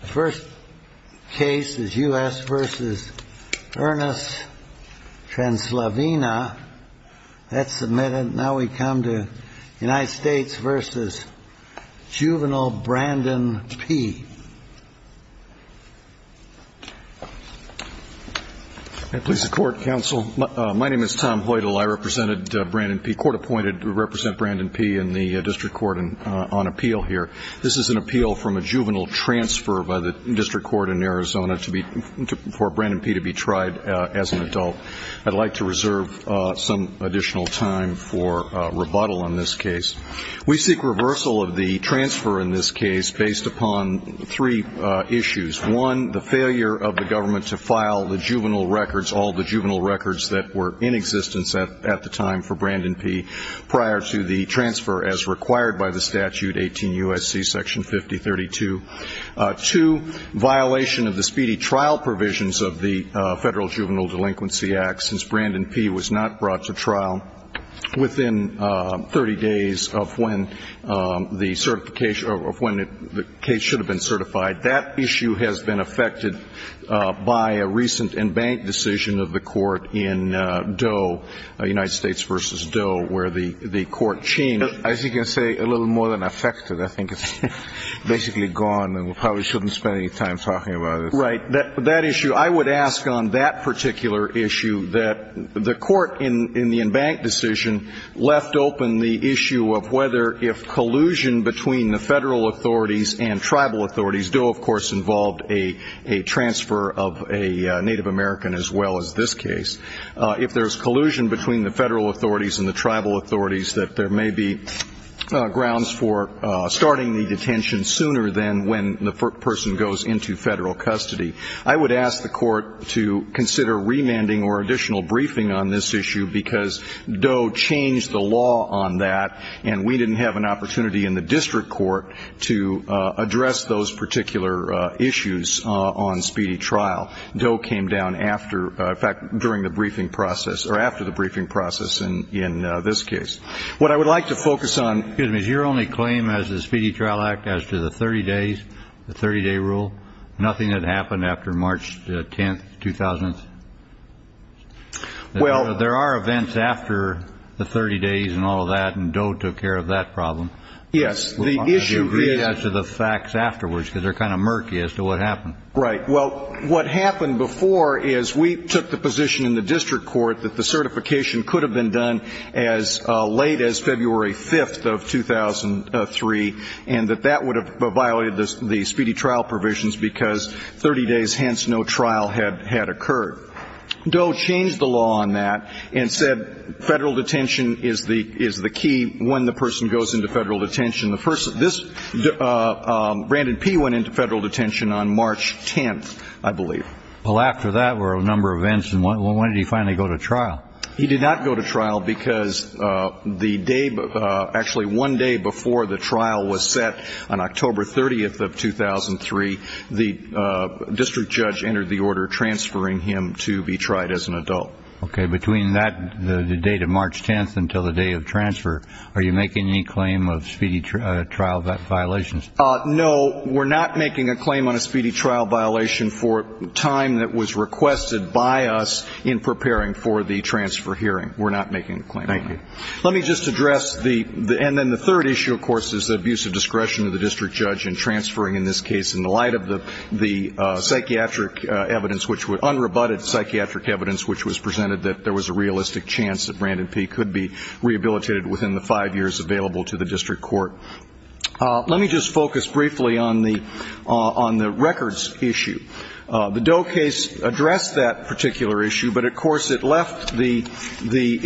The first case is U.S. v. Ernest Translavena. That's submitted. Now we come to United States v. Juvenile Brandon P. Please support, counsel. My name is Tom Hoytel. I represented Brandon P. Court appointed to represent Brandon P in the district court on appeal here. This is an appeal from a juvenile transfer by the district court in Arizona for Brandon P. to be tried as an adult. I'd like to reserve some additional time for rebuttal on this case. We seek reversal of the transfer in this case based upon three issues. One, the failure of the government to file the juvenile records, all the juvenile records that were in existence at the time for Brandon P. prior to the transfer as required by the statute, 18 U.S.C. Section 5032. Two, violation of the speedy trial provisions of the Federal Juvenile Delinquency Act since Brandon P. was not brought to trial within 30 days of when the certification or when the case should have been certified. That issue has been affected by a recent embanked decision of the court in Doe, United States v. Doe, where the court changed. As you can say, a little more than affected. I think it's basically gone, and we probably shouldn't spend any time talking about it. Right. That issue. I would ask on that particular issue that the court in the embanked decision left open the issue of whether if collusion between the Federal authorities and tribal authorities, Doe, of course, involved a transfer of a Native American as well as this case, if there's collusion between the Federal authorities and the tribal authorities, that there may be grounds for starting the detention sooner than when the person goes into Federal custody. I would ask the court to consider remanding or additional briefing on this issue because Doe changed the law on that, and we didn't have an opportunity in the district court to address those particular issues on speedy trial. Doe came down after, in fact, during the briefing process or after the briefing process in this case. What I would like to focus on. Excuse me. Is your only claim as the Speedy Trial Act as to the 30 days, the 30-day rule, nothing that happened after March 10, 2000? Well, there are events after the 30 days and all of that, and Doe took care of that problem. Yes. Would you agree as to the facts afterwards because they're kind of murky as to what happened. Right. Well, what happened before is we took the position in the district court that the certification could have been done as late as February 5th of 2003 and that that would have violated the speedy trial provisions because 30 days, hence, no trial had occurred. Doe changed the law on that and said Federal detention is the key when the person goes into Federal detention. This, Brandon P. went into Federal detention on March 10th, I believe. Well, after that were a number of events, and when did he finally go to trial? He did not go to trial because the day, actually one day before the trial was set on October 30th of 2003, the district judge entered the order transferring him to be tried as an adult. Okay. Between that, the date of March 10th until the day of transfer, are you making any claim of speedy trial violations? No. We're not making a claim on a speedy trial violation for time that was requested by us in preparing for the transfer hearing. We're not making a claim on that. Thank you. Let me just address the, and then the third issue, of course, is the abuse of discretion of the district judge in transferring, in this case, in the light of the psychiatric evidence, which was unrebutted psychiatric evidence, which was presented that there was a realistic chance that Brandon P. could be rehabilitated within the five years available to the district court. Let me just focus briefly on the records issue. The Doe case addressed that particular issue, but, of course, it left the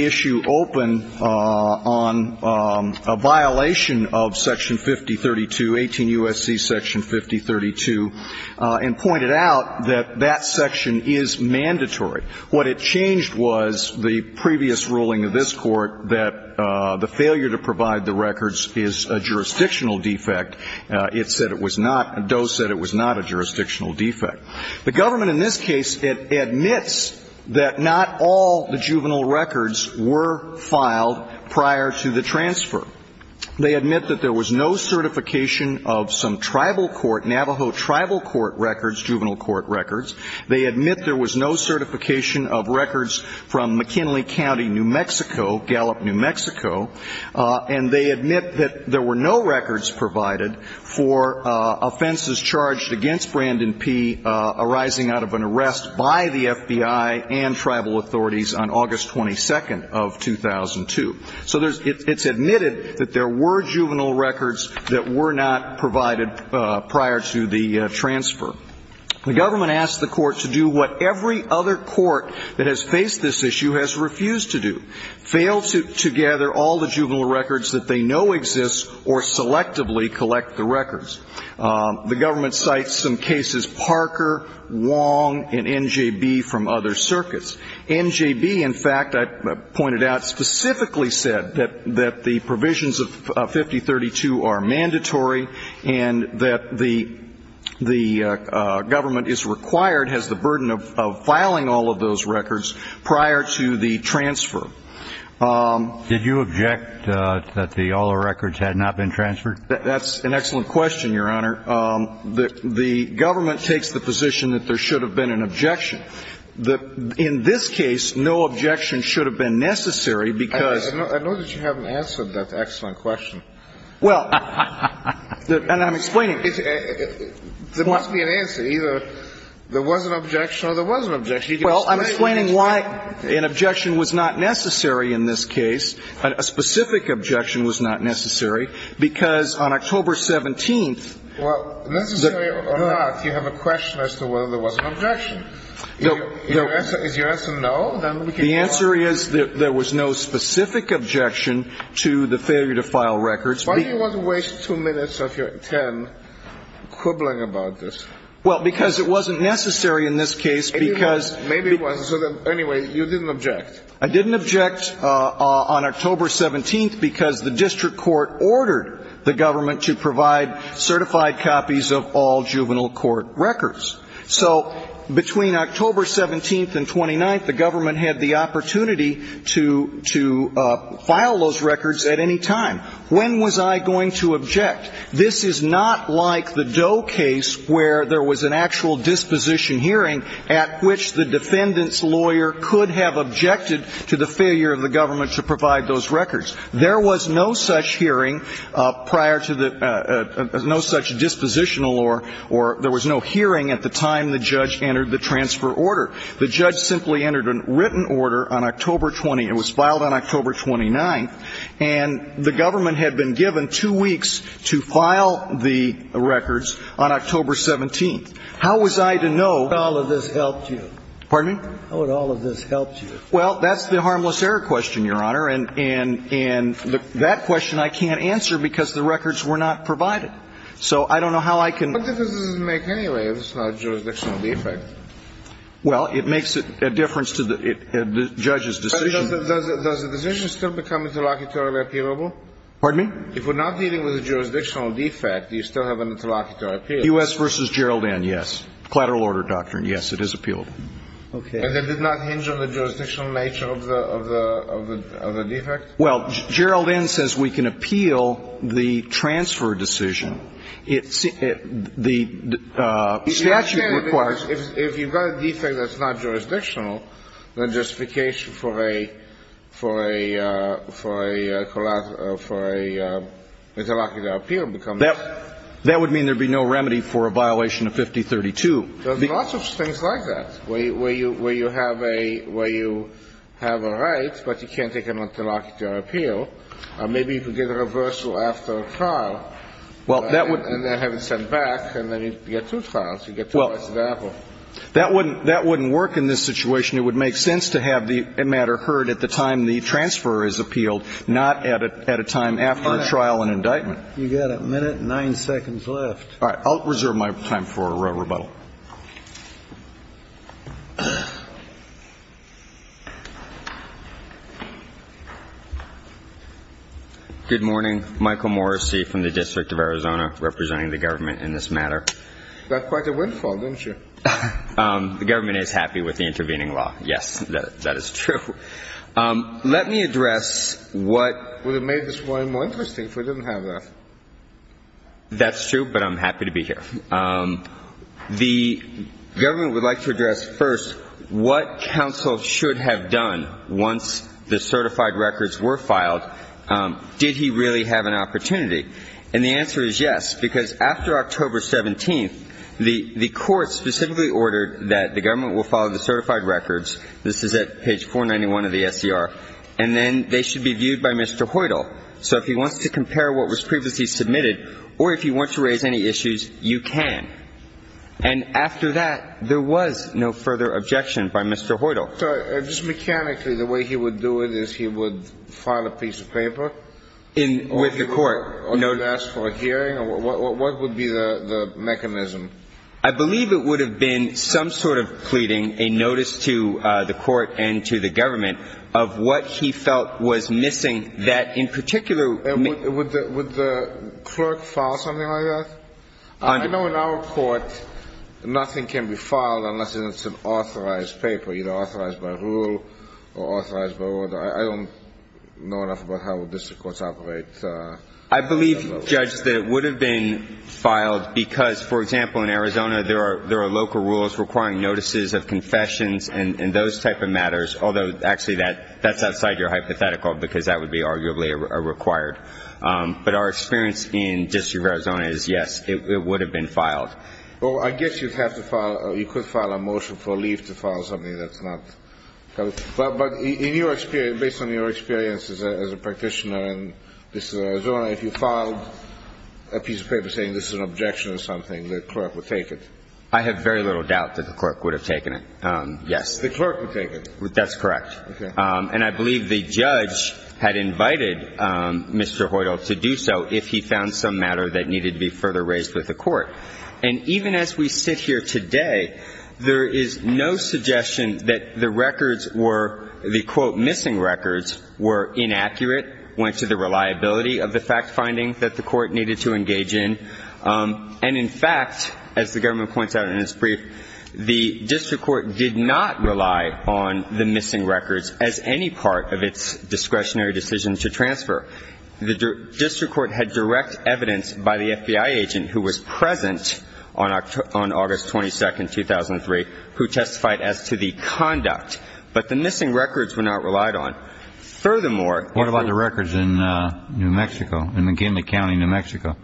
issue open on a violation of Section 5032, 18 U.S.C. Section 5032, and pointed out that that section is mandatory. What it changed was the previous ruling of this Court that the failure to provide the records is a jurisdictional defect. It said it was not, Doe said it was not a jurisdictional defect. The government in this case admits that not all the juvenile records were filed prior to the transfer. They admit that there was no certification of some tribal court, Navajo tribal court records, juvenile court records. They admit there was no certification of records from McKinley County, New Mexico, Gallup, New Mexico. And they admit that there were no records provided for offenses charged against Brandon P. arising out of an arrest by the FBI and tribal authorities on August 22nd of 2002. So it's admitted that there were juvenile records that were not provided prior to the transfer. The government asked the Court to do what every other court that has faced this issue has refused to do, fail to gather all the juvenile records that they know exist or selectively collect the records. The government cites some cases, Parker, Wong, and NJB from other circuits. NJB, in fact, I pointed out, specifically said that the provisions of 5032 are mandatory and that the government is required, has the burden of filing all of those records prior to the transfer. Did you object that all the records had not been transferred? That's an excellent question, Your Honor. The government takes the position that there should have been an objection. In this case, no objection should have been necessary because ---- I know that you haven't answered that excellent question. Well, and I'm explaining. There must be an answer. Either there was an objection or there was an objection. Well, I'm explaining why an objection was not necessary in this case. A specific objection was not necessary because on October 17th ---- Well, necessary or not, you have a question as to whether there was an objection. Is your answer no? The answer is that there was no specific objection to the failure to file records. Why do you want to waste two minutes of your time quibbling about this? Well, because it wasn't necessary in this case because ---- Anyway, you didn't object. I didn't object on October 17th because the district court ordered the government to provide certified copies of all juvenile court records. So between October 17th and 29th, the government had the opportunity to file those records at any time. When was I going to object? This is not like the Doe case where there was an actual disposition hearing at which the defendant's lawyer could have objected to the failure of the government to provide those records. There was no such hearing prior to the ---- no such dispositional or there was no hearing at the time the judge entered the transfer order. The judge simply entered a written order on October 20th. It was filed on October 29th. And the government had been given two weeks to file the records on October 17th. How was I to know ---- How would all of this help you? Pardon me? How would all of this help you? Well, that's the harmless error question, Your Honor. And that question I can't answer because the records were not provided. So I don't know how I can ---- What difference does it make anyway if it's not a jurisdictional defect? Well, it makes a difference to the judge's decision. Does the decision still become interlocutory appealable? Pardon me? If we're not dealing with a jurisdictional defect, do you still have an interlocutory appealable? U.S. v. Gerald N., yes. Collateral order doctrine, yes, it is appealable. Okay. And it did not hinge on the jurisdictional nature of the defect? Well, Gerald N. says we can appeal the transfer decision. The statute requires ---- If you've got a defect that's not jurisdictional, then justification for a collateral, for an interlocutory appeal becomes ---- That would mean there would be no remedy for a violation of 5032. There's lots of things like that, where you have a right, but you can't take an interlocutory appeal. Maybe you could get a reversal after a trial. Well, that would ---- Well, that wouldn't work in this situation. It would make sense to have the matter heard at the time the transfer is appealed, not at a time after a trial and indictment. You've got a minute and nine seconds left. All right. I'll reserve my time for rebuttal. Good morning. Michael Morrissey from the District of Arizona. Thank you for representing the government in this matter. That's quite a windfall, don't you? The government is happy with the intervening law. Yes, that is true. Let me address what ---- Would have made this one more interesting if we didn't have that. That's true, but I'm happy to be here. The government would like to address first what counsel should have done once the certified records were filed. Did he really have an opportunity? And the answer is yes, because after October 17th, the court specifically ordered that the government will file the certified records. This is at page 491 of the SCR. And then they should be viewed by Mr. Hoyle. So if he wants to compare what was previously submitted or if he wants to raise any issues, you can. And after that, there was no further objection by Mr. Hoyle. So just mechanically, the way he would do it is he would file a piece of paper? With the court. Or he would ask for a hearing? What would be the mechanism? I believe it would have been some sort of pleading, a notice to the court and to the government of what he felt was missing, that in particular ---- Would the clerk file something like that? I know in our court, nothing can be filed unless it's an authorized paper, either authorized by rule or authorized by order. I don't know enough about how district courts operate. I believe, Judge, that it would have been filed because, for example, in Arizona, there are local rules requiring notices of confessions and those type of matters. Although, actually, that's outside your hypothetical because that would be arguably required. But our experience in the District of Arizona is, yes, it would have been filed. Well, I guess you'd have to file or you could file a motion for leave to file something that's not ---- But in your experience, based on your experience as a practitioner in the District of Arizona, if you filed a piece of paper saying this is an objection or something, the clerk would take it? I have very little doubt that the clerk would have taken it, yes. The clerk would take it? That's correct. Okay. And I believe the judge had invited Mr. Hoyle to do so if he found some matter that needed to be further raised with the court. And even as we sit here today, there is no suggestion that the records were the, quote, missing records, were inaccurate, went to the reliability of the fact-finding that the court needed to engage in. And, in fact, as the government points out in its brief, the district court did not rely on the missing records as any part of its discretionary decision to transfer. The district court had direct evidence by the FBI agent who was present on August 22, 2003, who testified as to the conduct. But the missing records were not relied on. Furthermore ---- What about the records in New Mexico, in McKinley County, New Mexico?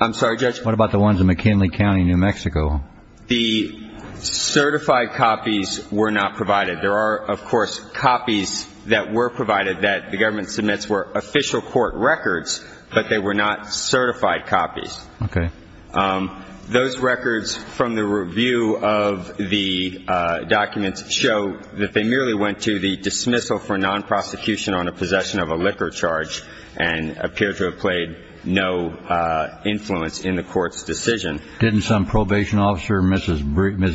I'm sorry, Judge? What about the ones in McKinley County, New Mexico? The certified copies were not provided. There are, of course, copies that were provided that the government submits were official court records, but they were not certified copies. Okay. Those records from the review of the documents show that they merely went to the dismissal for non-prosecution on a possession of a liquor charge and appear to have played no influence in the court's decision. Didn't some probation officer, Ms.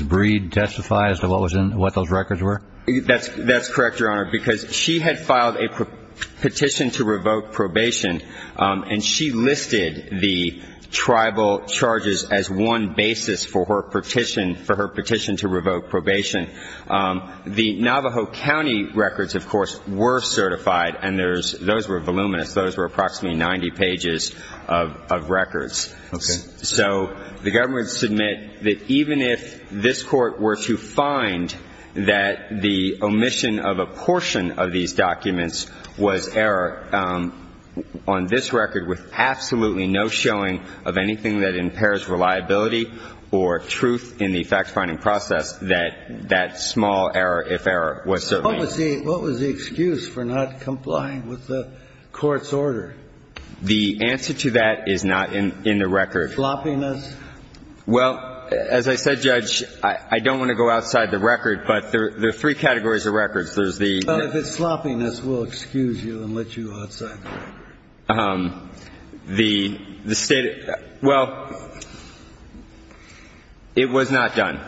Breed, testify as to what those records were? That's correct, Your Honor, because she had filed a petition to revoke probation, and she listed the tribal charges as one basis for her petition to revoke probation. The Navajo County records, of course, were certified, and those were voluminous. Those were approximately 90 pages of records. Okay. So the government would submit that even if this Court were to find that the omission of a portion of these documents was error, on this record with absolutely no showing of anything that impairs reliability or truth in the fact-finding process, that that small error, if error, was certainly not. What was the excuse for not complying with the court's order? The answer to that is not in the record. Sloppiness? Well, as I said, Judge, I don't want to go outside the record, but there are three categories of records. There's the – Well, if it's sloppiness, we'll excuse you and let you outside. The State – well, it was not done.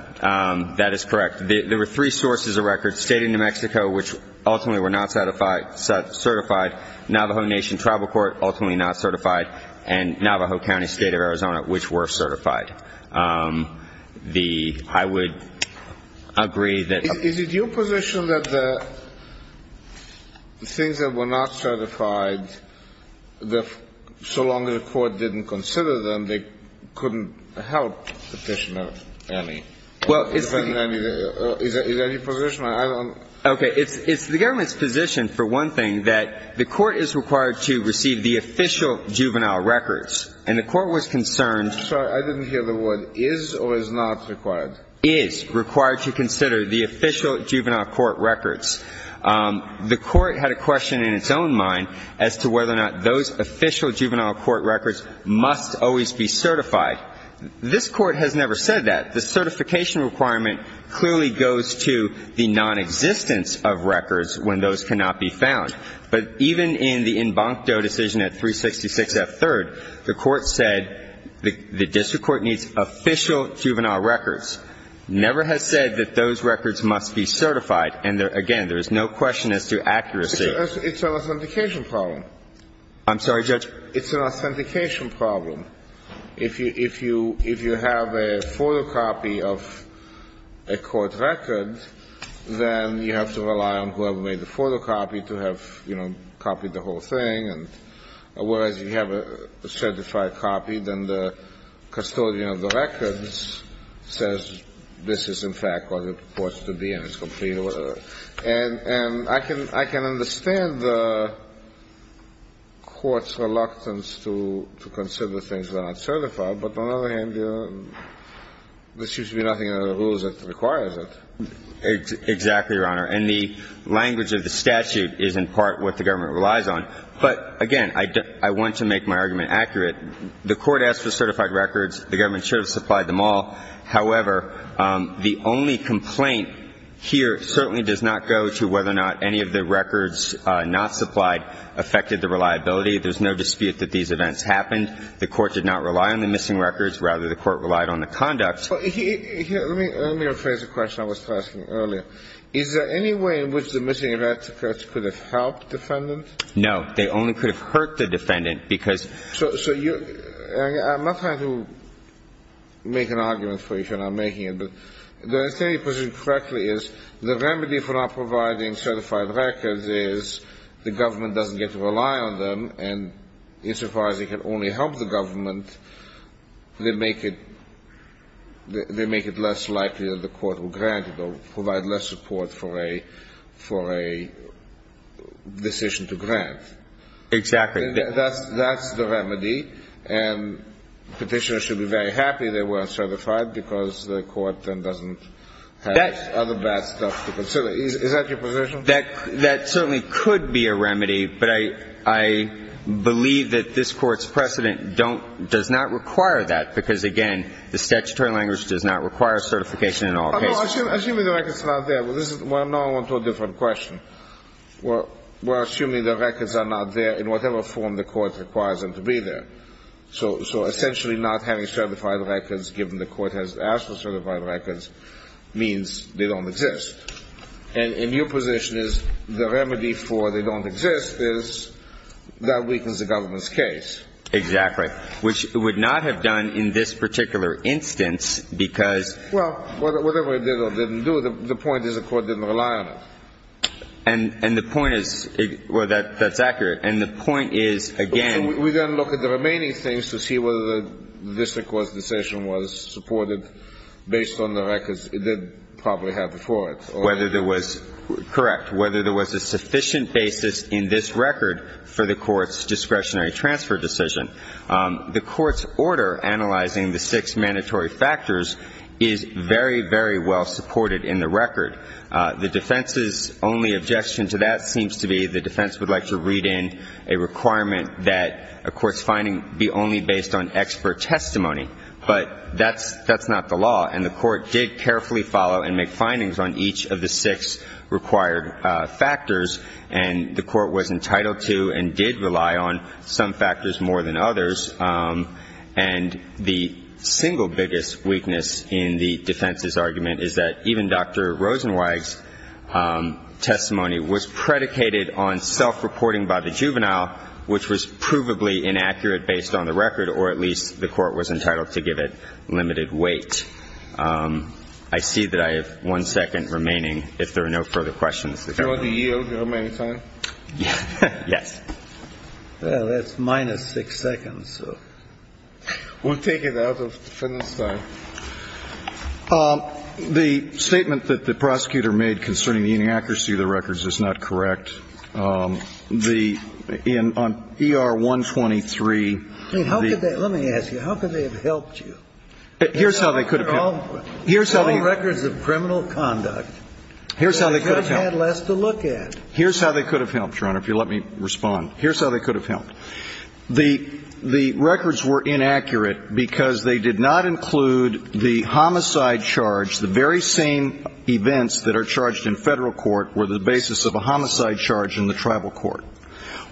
That is correct. There were three sources of records, State of New Mexico, which ultimately were not certified, Navajo Nation Tribal Court, ultimately not certified, and Navajo County State of Arizona, which were certified. The – I would agree that – Is it your position that the things that were not certified, so long as the court didn't consider them, they couldn't help petitioner any? Well, it's – Is it any position? Okay. It's the government's position, for one thing, that the court is required to receive the official juvenile records, and the court was concerned – I'm sorry. I didn't hear the word is or is not required. Is required to consider the official juvenile court records. The court had a question in its own mind as to whether or not those official juvenile court records must always be certified. This Court has never said that. The certification requirement clearly goes to the nonexistence of records when those cannot be found. But even in the embankment decision at 366 F. 3rd, the court said the district court needs official juvenile records, never has said that those records must be certified. And, again, there is no question as to accuracy. It's an authentication problem. I'm sorry, Judge. It's an authentication problem. If you have a photocopy of a court record, then you have to rely on whoever made the photocopy to have, you know, copied the whole thing. And whereas if you have a certified copy, then the custodian of the records says this is, in fact, what it reports to be and it's complete or whatever. And I can understand the court's reluctance to consider things that are not certified. But on the other hand, there seems to be nothing under the rules that requires it. Exactly, Your Honor. And the language of the statute is in part what the government relies on. But, again, I want to make my argument accurate. The court asked for certified records. The government should have supplied them all. However, the only complaint here certainly does not go to whether or not any of the records not supplied affected the reliability. There's no dispute that these events happened. The court did not rely on the missing records. Rather, the court relied on the conduct. Let me rephrase the question I was asking earlier. Is there any way in which the missing records could have helped the defendant? No. They only could have hurt the defendant, because you're – I'm not trying to make an argument for you, Your Honor. I'm making it. But the way you put it correctly is the remedy for not providing certified records is the government doesn't get to rely on them, and insofar as it can only help the government, they make it less likely that the court will grant it or provide less support for a decision to grant. Exactly. That's the remedy, and Petitioners should be very happy they weren't certified, because the court then doesn't have other bad stuff to consider. Is that your position? That certainly could be a remedy, but I believe that this Court's precedent don't – does not require that, because, again, the statutory language does not require certification in all cases. Assuming the records are not there. Well, now I'm on to a different question. Well, assuming the records are not there in whatever form the court requires them to be there. So essentially not having certified records, given the court has asked for certified records, means they don't exist. And your position is the remedy for they don't exist is that weakens the government's case. Exactly, which it would not have done in this particular instance, because – Well, whatever it did or didn't do, the point is the court didn't rely on it. And the point is – well, that's accurate. And the point is, again – We then look at the remaining things to see whether the district court's decision was supported based on the records it did probably have before it. Whether there was – correct. Whether there was a sufficient basis in this record for the court's discretionary transfer decision. The court's order analyzing the six mandatory factors is very, very well supported in the record. The defense's only objection to that seems to be the defense would like to read in a requirement that a court's finding be only based on expert testimony. But that's not the law. And the court did carefully follow and make findings on each of the six required factors. And the court was entitled to and did rely on some factors more than others. And the single biggest weakness in the defense's argument is that even Dr. Rosenweig's testimony was predicated on self-reporting by the juvenile, which was provably inaccurate based on the record, or at least the court was entitled to give it limited weight. I see that I have one second remaining if there are no further questions. Do you want to yield your remaining time? Yes. Well, that's minus six seconds, so. We'll take it out of defendant's time. The statement that the prosecutor made concerning the inaccuracy of the records is not correct. The – on ER-123, the – Let me ask you. How could they have helped you? Here's how they could have helped. All records of criminal conduct. Here's how they could have helped. They could have had less to look at. Here's how they could have helped, Your Honor, if you'll let me respond. Here's how they could have helped. The records were inaccurate because they did not include the homicide charge. The very same events that are charged in federal court were the basis of a homicide charge in the tribal court.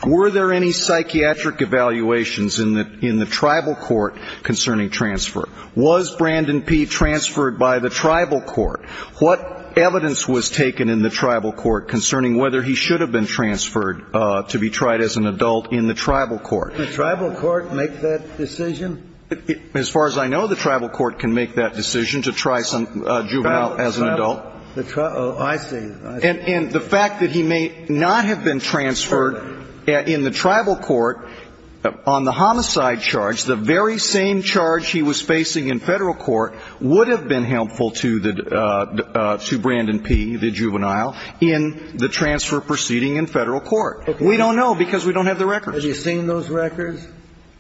Were there any psychiatric evaluations in the tribal court concerning transfer? Was Brandon P. transferred by the tribal court? What evidence was taken in the tribal court concerning whether he should have been transferred to be tried as an adult in the tribal court? Did the tribal court make that decision? As far as I know, the tribal court can make that decision to try a juvenile as an adult. Oh, I see. And the fact that he may not have been transferred in the tribal court on the homicide charge, the very same charge he was facing in federal court would have been helpful to Brandon P., the juvenile, in the transfer proceeding in federal court. We don't know because we don't have the records. Have you seen those records?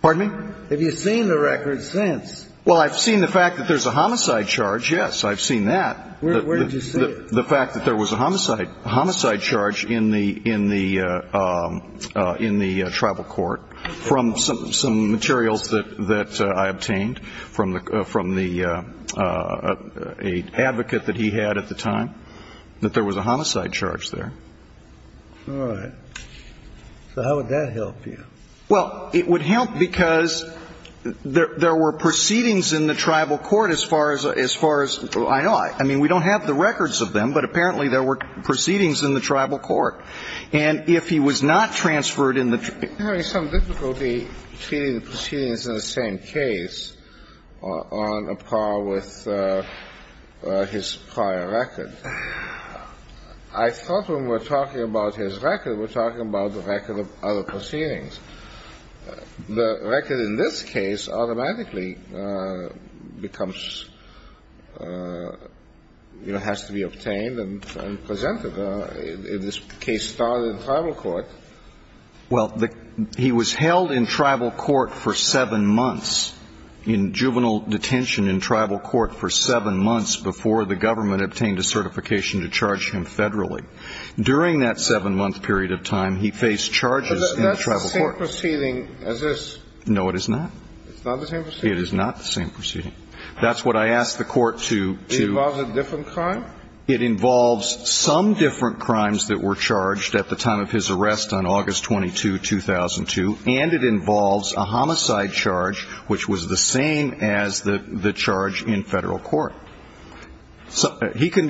Pardon me? Have you seen the records since? Well, I've seen the fact that there's a homicide charge, yes. I've seen that. Where did you see it? The fact that there was a homicide charge in the tribal court from some materials that I obtained from the advocate that he had at the time, that there was a homicide charge there. All right. So how would that help you? Well, it would help because there were proceedings in the tribal court as far as I know. I mean, we don't have the records of them, but apparently there were proceedings in the tribal court. And if he was not transferred in the tri ---- We're having some difficulty treating the proceedings in the same case on a par with his prior record. I thought when we were talking about his record, we were talking about the record of other proceedings. The record in this case automatically becomes, you know, has to be obtained and presented. This case started in tribal court. Well, he was held in tribal court for seven months, in juvenile detention in tribal court for seven months before the government obtained a certification to charge him federally. During that seven-month period of time, he faced charges in the tribal court. It's not the same proceeding as this. No, it is not. It's not the same proceeding. It is not the same proceeding. That's what I asked the court to do. It involves a different crime? It involves some different crimes that were charged at the time of his arrest on August 22, 2002. And it involves a homicide charge, which was the same as the charge in federal court. So it's a different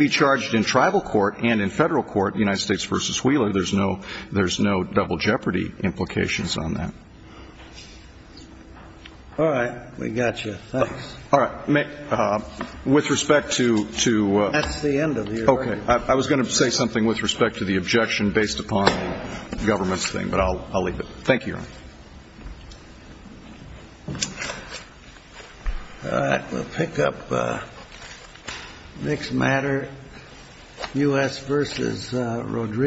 procedure. There's no double jeopardy implications on that. All right. We got you. Thanks. All right. With respect to the objection based upon the government's thing, but I'll leave it. Thank you. All right. We'll pick up next matter. U.S. versus Rodrigo.